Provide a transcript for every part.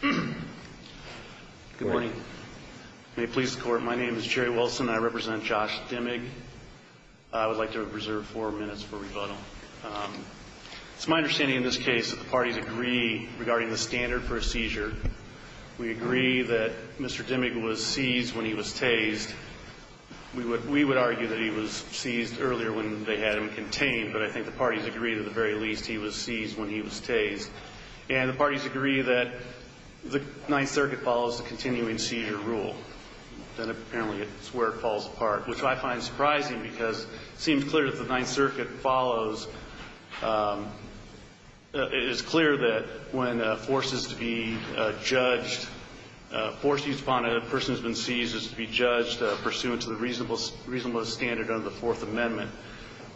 Good morning. May it please the court, my name is Jerry Wilson and I represent Josh Dimmig. I would like to reserve four minutes for rebuttal. It's my understanding in this case that the parties agree regarding the standard for a seizure. We agree that Mr. Dimmig was seized when he was tased. We would argue that he was seized earlier when they had him contained, but I think the parties agree that at the very least he was seized when he was tased. And the parties agree that the Ninth Circuit follows the continuing seizure rule. Then apparently it's where it falls apart, which I find surprising because it seems clear that the Ninth Circuit follows. It is clear that when a force is to be judged, a force used upon a person who has been seized is to be judged pursuant to the reasonablest standard under the Fourth Amendment,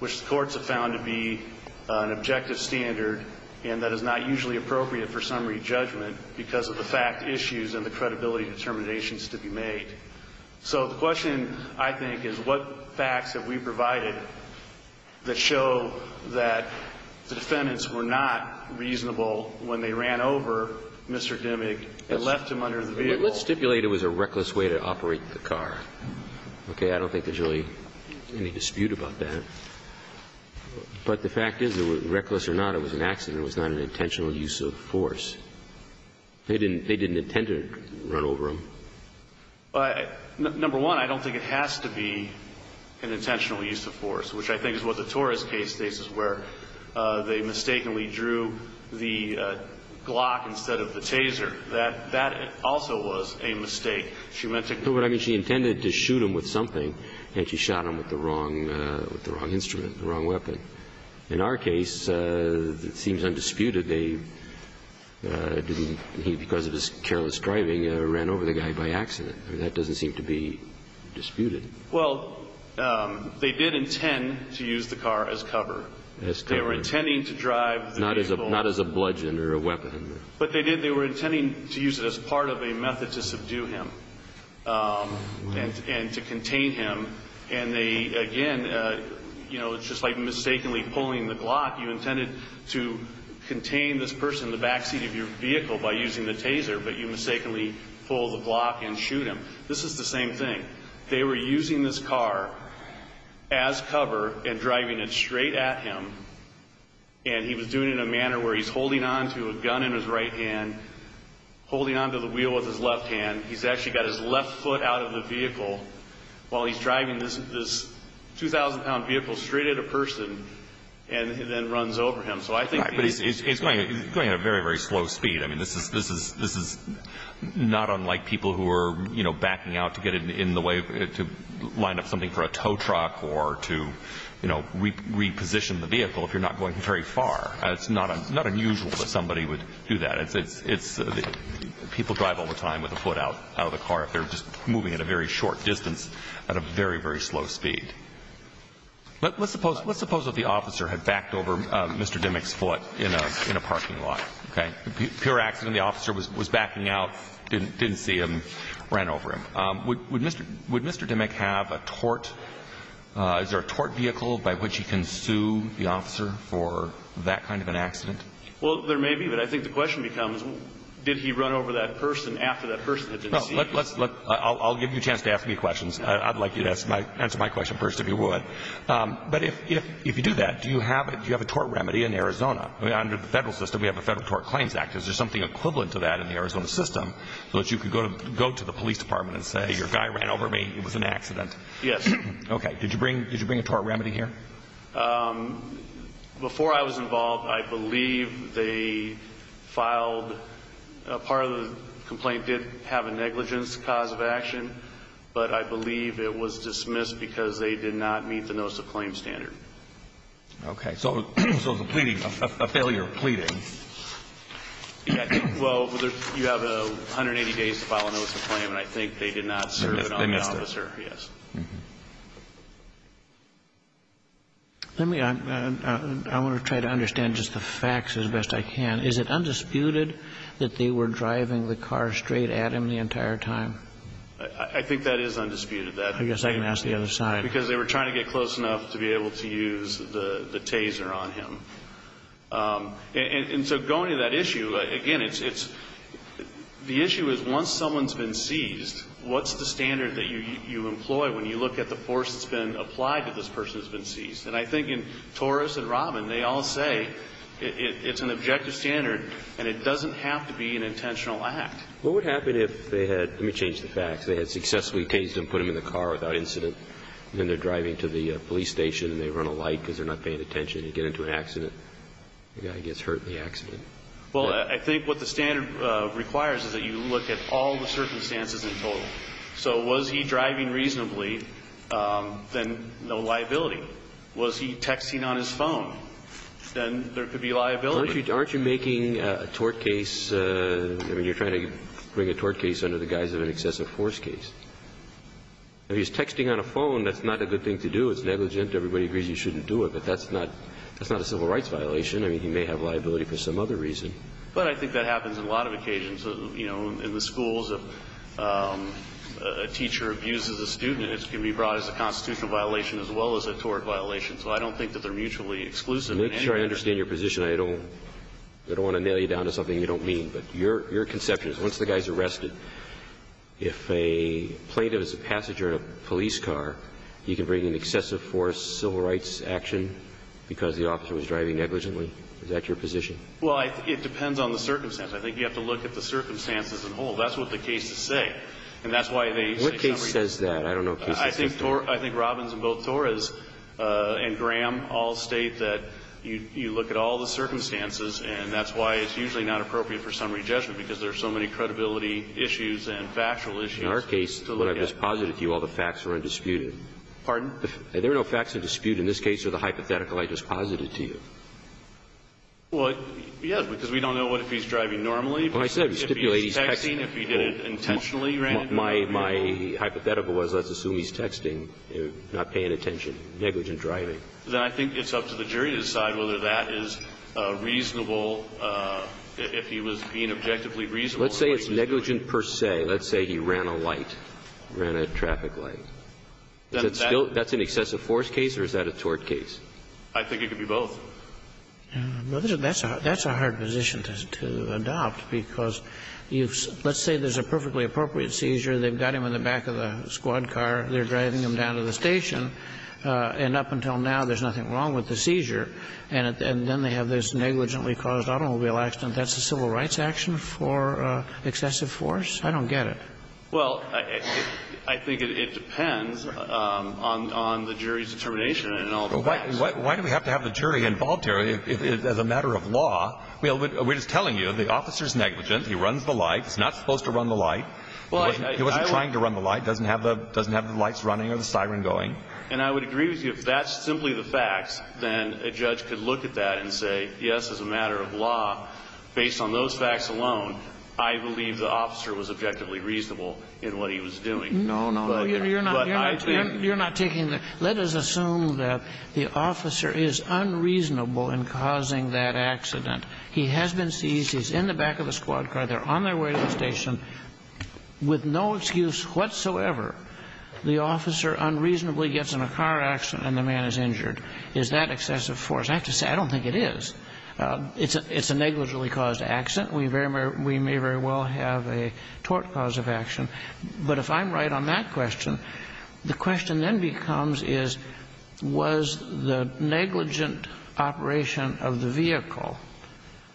which the courts have found to be an objective standard and that is not usually appropriate for summary judgment because of the fact issues and the credibility determinations to be made. So the question, I think, is what facts have we provided that show that the defendants were not reasonable when they ran over Mr. Dimmig and left him under the vehicle? Let's stipulate it was a reckless way to operate the car. Okay? I don't think there's really any dispute about that. But the fact is, reckless or not, it was an accident. It was not an intentional use of force. They didn't intend to run over him. Number one, I don't think it has to be an intentional use of force, which I think is what the Torres case states, where they mistakenly drew the Glock instead of the Taser. That also was a mistake. She meant to go over. I mean, she intended to shoot him with something, and she shot him with the wrong instrument, the wrong weapon. In our case, it seems undisputed they didn't. He, because of his careless driving, ran over the guy by accident. I mean, that doesn't seem to be disputed. Well, they did intend to use the car as cover. As cover. They were intending to drive the vehicle. Not as a bludgeon or a weapon. But they did, they were intending to use it as part of a method to subdue him and to contain him. And they, again, you know, it's just like mistakenly pulling the Glock. You intended to contain this person in the backseat of your vehicle by using the Taser, but you mistakenly pull the Glock and shoot him. This is the same thing. They were using this car as cover and driving it straight at him. And he was doing it in a manner where he's holding on to a gun in his right hand, holding on to the wheel with his left hand. He's actually got his left foot out of the vehicle while he's driving this 2,000-pound vehicle straight at a person and then runs over him. So I think it's going at a very, very slow speed. I mean, this is not unlike people who are, you know, backing out to get in the way to line up something for a tow truck or to, you know, reposition the vehicle if you're not going very far. It's not unusual that somebody would do that. It's people drive all the time with the foot out of the car if they're just moving at a very short distance at a very, very slow speed. Let's suppose that the officer had backed over Mr. Dimmock's foot in a parking lot. Okay. Pure accident. The officer was backing out, didn't see him, ran over him. Would Mr. Dimmock have a tort? Is there a tort vehicle by which he can sue the officer for that kind of an accident? Well, there may be, but I think the question becomes did he run over that person after that person that didn't see him? Let's look. I'll give you a chance to ask me questions. I'd like you to answer my question first if you would. But if you do that, do you have a tort remedy in Arizona? Under the federal system, we have the Federal Tort Claims Act. Is there something equivalent to that in the Arizona system so that you could go to the police department and say, your guy ran over me, it was an accident? Yes. Okay. Did you bring a tort remedy here? Before I was involved, I believe they filed a part of the complaint did have a negligence cause of action, but I believe it was dismissed because they did not meet the notice of claim standard. Okay. So it was a pleading, a failure of pleading. Yes. Well, you have 180 days to file a notice of claim, and I think they did not serve it on the officer. They missed it. Yes. Let me, I want to try to understand just the facts as best I can. Is it undisputed that they were driving the car straight at him the entire time? I think that is undisputed. I guess I can ask the other side. Because they were trying to get close enough to be able to use the taser on him. And so going to that issue, again, it's, the issue is once someone's been seized, what's the standard that you employ when you look at the force that's been applied to this person that's been seized? And I think in Torres and Robin, they all say it's an objective standard, and it doesn't have to be an intentional act. What would happen if they had, let me change the facts, if they had successfully tased him, put him in the car without incident, and then they're driving to the police station and they run a light because they're not paying attention, and you get into an accident, the guy gets hurt in the accident? Well, I think what the standard requires is that you look at all the circumstances in total. So was he driving reasonably? Then no liability. Was he texting on his phone? Then there could be liability. Aren't you making a tort case, I mean, you're trying to bring a tort case under the guise of an excessive force case. If he's texting on a phone, that's not a good thing to do. It's negligent. Everybody agrees you shouldn't do it. But that's not a civil rights violation. I mean, he may have liability for some other reason. But I think that happens on a lot of occasions. You know, in the schools, if a teacher abuses a student, it can be brought as a constitutional violation as well as a tort violation. So I don't think that they're mutually exclusive. Make sure I understand your position. I don't want to nail you down to something you don't mean. But your conception is once the guy's arrested, if a plaintiff is a passenger in a police car, you can bring an excessive force civil rights action because the officer was driving negligently? Is that your position? Well, it depends on the circumstance. I think you have to look at the circumstances in whole. That's what the cases say. And that's why they say some reason. What case says that? I don't know what case says that. I think Robbins and both Torres and Graham all state that you look at all the circumstances, and that's why it's usually not appropriate for summary judgment, because there's so many credibility issues and factual issues to look at. In our case, what I just posited to you, all the facts are undisputed. Pardon? There are no facts to dispute in this case or the hypothetical I just posited to you. Well, yes, because we don't know what if he's driving normally. Well, I said we stipulate he's texting. If he's texting, if he did it intentionally, right? My hypothetical was let's assume he's texting, not paying attention, negligent driving. Then I think it's up to the jury to decide whether that is reasonable, if he was being objectively reasonable in what he's doing. Let's say it's negligent per se. Let's say he ran a light, ran a traffic light. Is that still an excessive force case or is that a tort case? I think it could be both. Well, that's a hard position to adopt, because let's say there's a perfectly appropriate seizure. They've got him in the back of the squad car. They're driving him down to the station. And up until now, there's nothing wrong with the seizure. And then they have this negligently caused automobile accident. That's a civil rights action for excessive force? I don't get it. Well, I think it depends on the jury's determination and all the facts. Why do we have to have the jury involved here as a matter of law? We're just telling you the officer's negligent. He runs the light. He wasn't trying to run the light. He doesn't have the lights running or the siren going. And I would agree with you. If that's simply the facts, then a judge could look at that and say, yes, as a matter of law, based on those facts alone, I believe the officer was objectively reasonable in what he was doing. No, no, no. You're not taking that. Let us assume that the officer is unreasonable in causing that accident. He has been seized. He's in the back of the squad car. They're on their way to the station with no excuse whatsoever. The officer unreasonably gets in a car accident and the man is injured. Is that excessive force? I have to say I don't think it is. It's a negligently caused accident. We may very well have a tort cause of action. But if I'm right on that question, the question then becomes is, was the negligent operation of the vehicle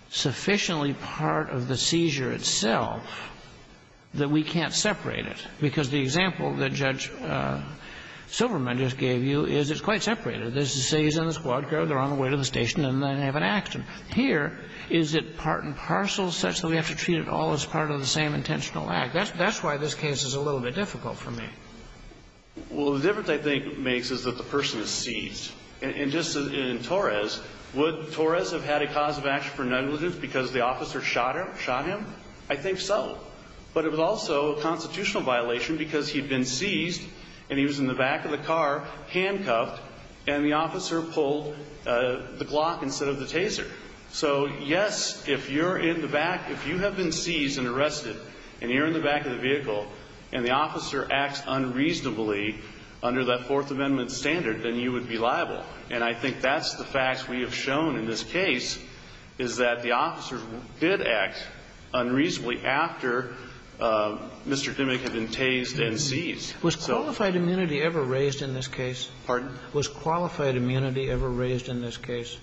sufficiently part of the seizure itself that we can't separate it? Because the example that Judge Silverman just gave you is it's quite separated. They're seized in the squad car. They're on their way to the station and then have an accident. Here, is it part and parcel such that we have to treat it all as part of the same intentional act? That's why this case is a little bit difficult for me. Well, the difference I think makes is that the person is seized. And just in Torres, would Torres have had a cause of action for negligence because the officer shot him? I think so. But it was also a constitutional violation because he'd been seized and he was in the back of the car handcuffed and the officer pulled the Glock instead of the Taser. So, yes, if you're in the back, if you have been seized and arrested and you're in the back of the vehicle and the officer acts unreasonably under that Fourth Amendment standard, then you would be liable. And I think that's the fact we have shown in this case is that the officers did act unreasonably after Mr. Dimmick had been tased and seized. Was qualified immunity ever raised in this case? Pardon? Was qualified immunity ever raised in this case?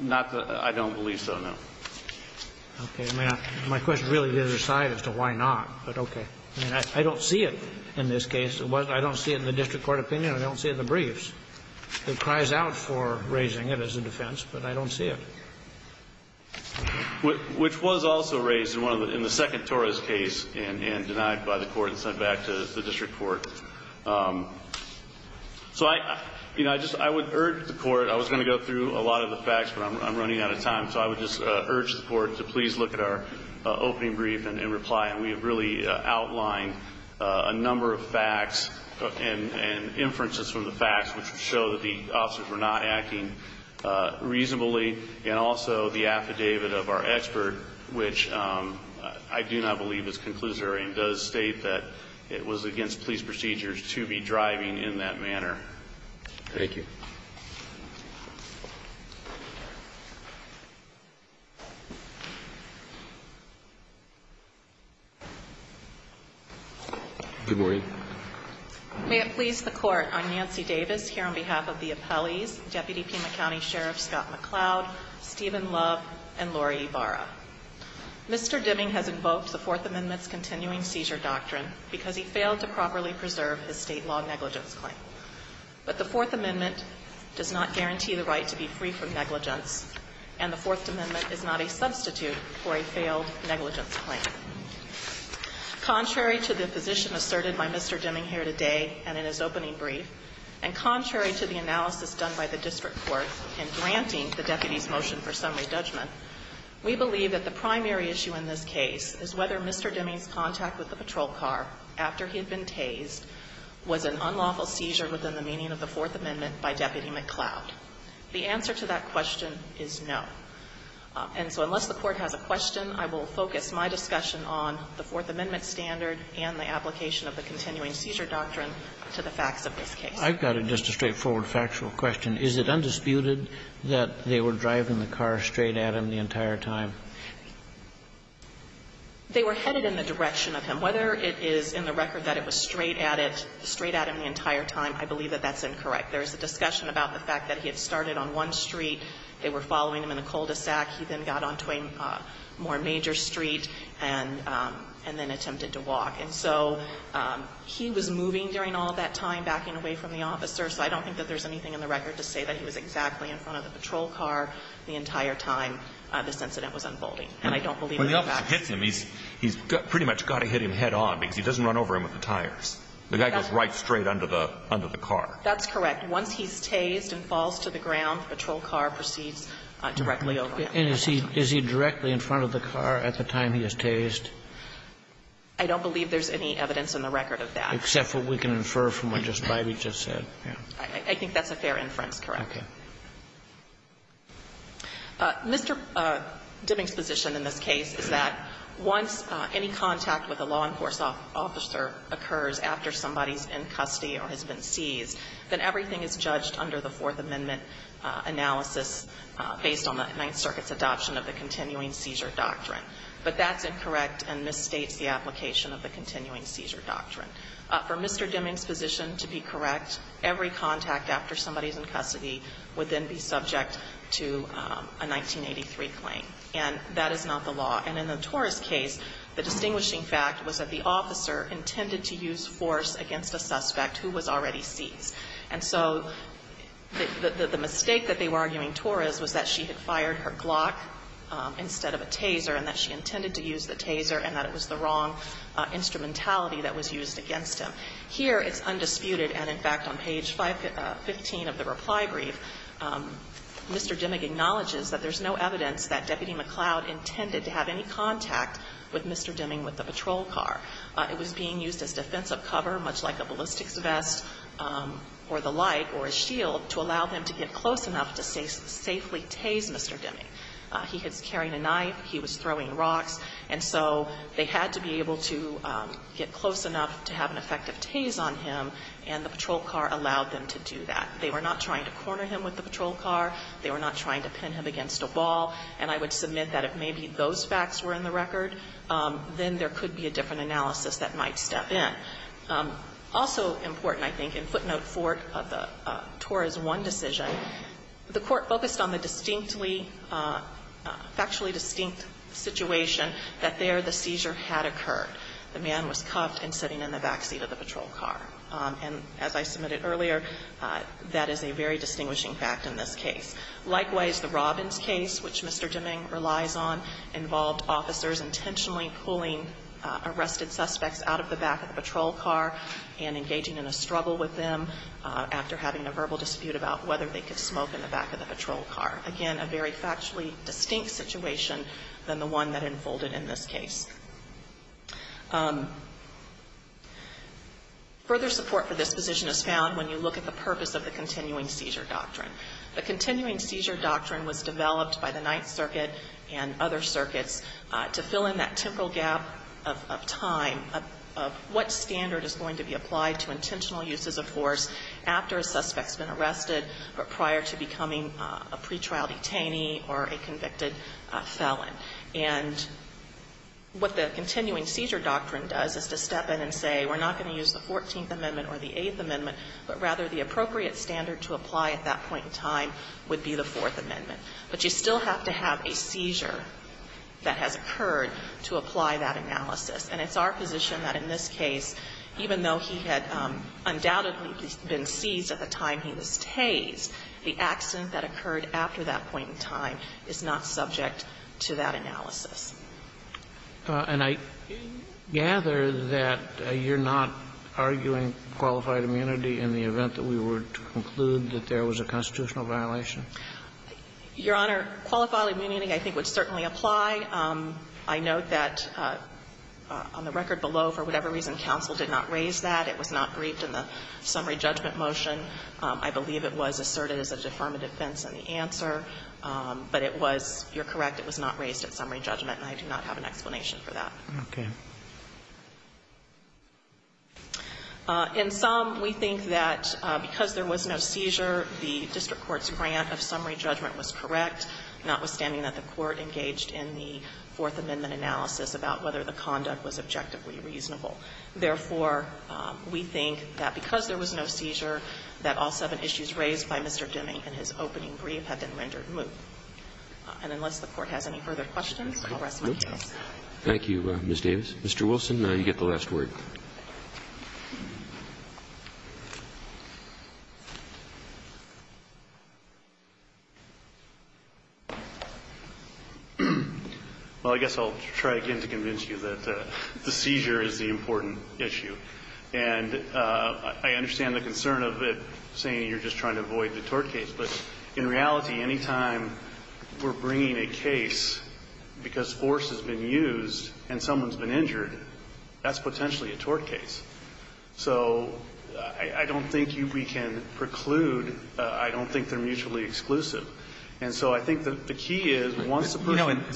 Not that I don't believe so, no. Okay. I mean, my question really is aside as to why not, but okay. I mean, I don't see it in this case. I don't see it in the district court opinion. I don't see it in the briefs. It cries out for raising it as a defense, but I don't see it. Which was also raised in the second Torres case and denied by the Court and sent back to the district court. So I, you know, I would urge the Court. I was going to go through a lot of the facts, but I'm running out of time. So I would just urge the Court to please look at our opening brief and reply. And we have really outlined a number of facts and inferences from the facts, which would show that the officers were not acting reasonably. And also the affidavit of our expert, which I do not believe is conclusory and does state that it was against police procedures to be driving in that manner. Thank you. Good morning. May it please the Court. I'm Nancy Davis here on behalf of the appellees, Deputy Pima County Sheriff Scott McCloud, Stephen Love, and Lori Ibarra. Mr. Dimming has invoked the Fourth Amendment's continuing seizure doctrine because he failed to properly preserve his State law negligence claim. But the Fourth Amendment does not guarantee the right to be free from negligence, and the Fourth Amendment is not a substitute for a failed negligence claim. Contrary to the position asserted by Mr. Dimming here today and in his opening brief, and contrary to the analysis done by the district court in granting the deputy's motion for summary judgment, we believe that the primary issue in this case is whether Mr. Dimming's contact with the patrol car after he had been tased was an unlawful seizure within the meaning of the Fourth Amendment by Deputy McCloud. The answer to that question is no. And so unless the Court has a question, I will focus my discussion on the Fourth Amendment standard and the application of the continuing seizure doctrine to the facts of this case. I've got just a straightforward factual question. Is it undisputed that they were driving the car straight at him the entire time? They were headed in the direction of him. Whether it is in the record that it was straight at it, straight at him the entire time, I believe that that's incorrect. There is a discussion about the fact that he had started on one street, they were headed into a cul-de-sac, he then got onto a more major street and then attempted to walk. And so he was moving during all that time, backing away from the officer, so I don't think that there's anything in the record to say that he was exactly in front of the patrol car the entire time this incident was unfolding. And I don't believe that that's true. When the officer hits him, he's pretty much got to hit him head on because he doesn't run over him with the tires. The guy goes right straight under the car. That's correct. Once he's tased and falls to the ground, the patrol car proceeds directly over him. And is he directly in front of the car at the time he is tased? I don't believe there's any evidence in the record of that. Except what we can infer from what just Bidey just said. I think that's a fair inference, correct. Okay. Mr. Dibbing's position in this case is that once any contact with a law enforcement officer occurs after somebody is in custody or has been seized, then everything is judged under the Fourth Amendment analysis based on the Ninth Circuit's adoption of the continuing seizure doctrine. But that's incorrect and misstates the application of the continuing seizure doctrine. For Mr. Dibbing's position to be correct, every contact after somebody is in custody would then be subject to a 1983 claim. And that is not the law. And in the Torres case, the distinguishing fact was that the officer intended to use force against a suspect who was already seized. And so the mistake that they were arguing Torres was that she had fired her glock instead of a taser and that she intended to use the taser and that it was the wrong instrumentality that was used against him. Here it's undisputed, and in fact on page 515 of the reply brief, Mr. Dibbing acknowledges that there's no evidence that Deputy McCloud intended to have any contact with Mr. Dibbing with the patrol car. It was being used as defensive cover, much like a ballistics vest or the like or a shield, to allow them to get close enough to safely tase Mr. Dibbing. He was carrying a knife. He was throwing rocks. And so they had to be able to get close enough to have an effective tase on him, and the patrol car allowed them to do that. They were not trying to corner him with the patrol car. They were not trying to pin him against a ball. And I would submit that if maybe those facts were in the record, then there could be a different analysis that might step in. Also important, I think, in footnote 4 of the Torres 1 decision, the Court focused on the distinctly, factually distinct situation that there the seizure had occurred. The man was cuffed and sitting in the back seat of the patrol car. And as I submitted earlier, that is a very distinguishing fact in this case. Likewise, the Robbins case, which Mr. Dibbing relies on, involved officers intentionally pulling arrested suspects out of the back of the patrol car and engaging in a struggle with them after having a verbal dispute about whether they could smoke in the back of the patrol car. Again, a very factually distinct situation than the one that unfolded in this case. Further support for this position is found when you look at the purpose of the continuing seizure doctrine. The continuing seizure doctrine was developed by the Ninth Circuit and other circuits to fill in that temporal gap of time of what standard is going to be applied to intentional uses of force after a suspect's been arrested or prior to becoming a pretrial detainee or a convicted felon. And what the continuing seizure doctrine does is to step in and say we're not going to use the Fourteenth Amendment or the Eighth Amendment, but rather the appropriate standard to apply at that point in time would be the Fourth Amendment. But you still have to have a seizure that has occurred to apply that analysis. And it's our position that in this case, even though he had undoubtedly been seized at the time he was tased, the accident that occurred after that point in time is not subject to that analysis. And I gather that you're not arguing qualified immunity in the event that we were to conclude that there was a constitutional violation? Your Honor, qualified immunity I think would certainly apply. I note that on the record below, for whatever reason, counsel did not raise that. It was not briefed in the summary judgment motion. I believe it was asserted as a deferment of defense in the answer. But it was, you're correct, it was not raised at summary judgment, and I do not have an explanation for that. Okay. In sum, we think that because there was no seizure, the district court's grant of summary judgment was correct, notwithstanding that the court engaged in the Fourth Amendment analysis about whether the conduct was objectively reasonable. Therefore, we think that because there was no seizure, that all seven issues raised by Mr. Deming in his opening brief have been rendered moot. And unless the Court has any further questions, I'll rest my case. Thank you, Ms. Davis. Mr. Wilson, you get the last word. Well, I guess I'll try again to convince you that the seizure is the important issue. And I understand the concern of it saying you're just trying to avoid the tort case. But in reality, any time we're bringing a case because force has been used and someone's been injured, that's potentially a tort case. So I don't think we can preclude. I don't think they're mutually exclusive. And so I think that the key is, once a person ---- I think the key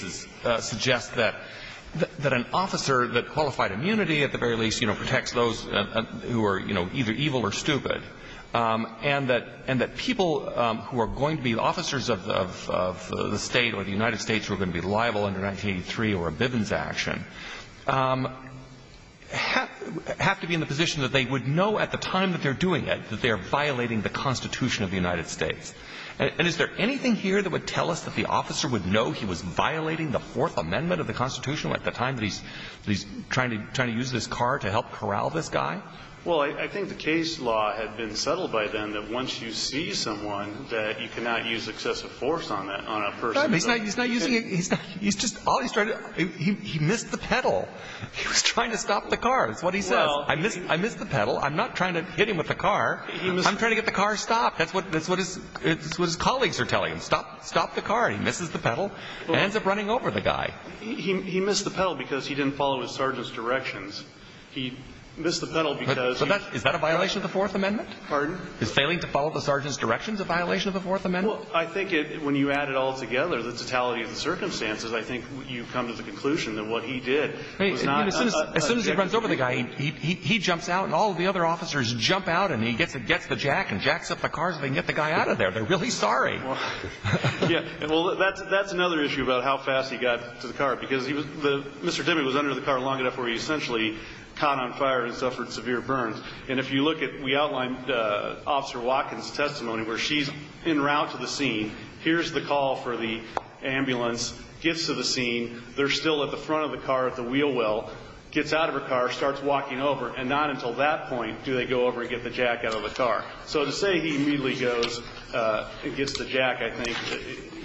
is that an officer that qualified immunity, at the very least, you know, protects those who are, you know, either evil or stupid, and that people who are going to be officers of the State or the United States who are going to be liable under 1983 or a Bivens action have to be in the position that they would know at the time that they're doing it that they're violating the Constitution of the United States. And is there anything here that would tell us that the officer would know he was violating the Fourth Amendment of the Constitution at the time that he's trying to use this car to help corral this guy? Well, I think the case law had been settled by then that once you see someone, that you cannot use excessive force on a person. He's not using it. He's just ---- he missed the pedal. He was trying to stop the car. That's what he says. I missed the pedal. I'm not trying to hit him with the car. I'm trying to get the car stopped. That's what his colleagues are telling him. Stop the car. He misses the pedal and ends up running over the guy. He missed the pedal because he didn't follow his sergeant's directions. He missed the pedal because he ---- Is that a violation of the Fourth Amendment? Pardon? Is failing to follow the sergeant's directions a violation of the Fourth Amendment? Well, I think when you add it all together, the totality of the circumstances, I think you come to the conclusion that what he did was not ---- As soon as he runs over the guy, he jumps out and all the other officers jump out and he gets the jack and jacks up the car so they can get the guy out of there. They're really sorry. Yeah. Well, that's another issue about how fast he got to the car because Mr. Demme was under the car long enough where he essentially caught on fire and suffered severe burns. And if you look at ---- we outlined Officer Watkins' testimony where she's en route to the scene. Here's the call for the ambulance. Gets to the scene. They're still at the front of the car at the wheel well. Gets out of her car, starts walking over, and not until that point do they go over and get the jack out of the car. So to say he immediately goes and gets the jack, I think,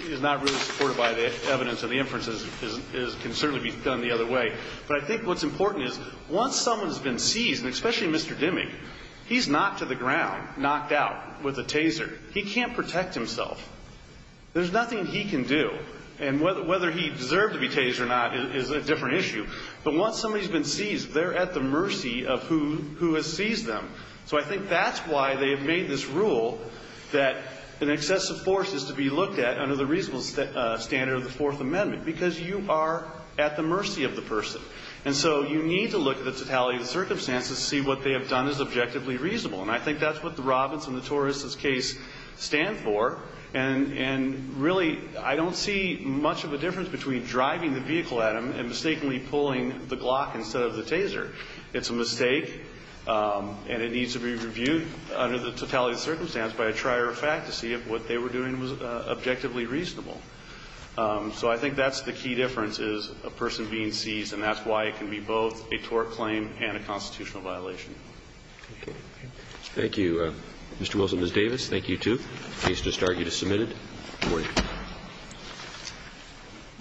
is not really supported by the evidence of the inferences. It can certainly be done the other way. But I think what's important is once someone has been seized, and especially Mr. Demme, he's knocked to the ground, knocked out with a taser. He can't protect himself. There's nothing he can do. And whether he deserved to be tased or not is a different issue. But once somebody has been seized, they're at the mercy of who has seized them. So I think that's why they have made this rule that an excessive force is to be looked at under the reasonable standard of the Fourth Amendment, because you are at the mercy of the person. And so you need to look at the totality of the circumstances to see what they have done is objectively reasonable. And I think that's what the Robbins and the Torres' case stand for. And really, I don't see much of a difference between driving the vehicle at him and mistakenly pulling the Glock instead of the taser. It's a mistake, and it needs to be reviewed under the totality of the circumstance by a trier of fact to see if what they were doing was objectively reasonable. So I think that's the key difference is a person being seized, and that's why it can be both a tort claim and a constitutional violation. Thank you. Thank you, Mr. Wilson and Ms. Davis. Thank you, too. The case has started. You're submitted. Good morning.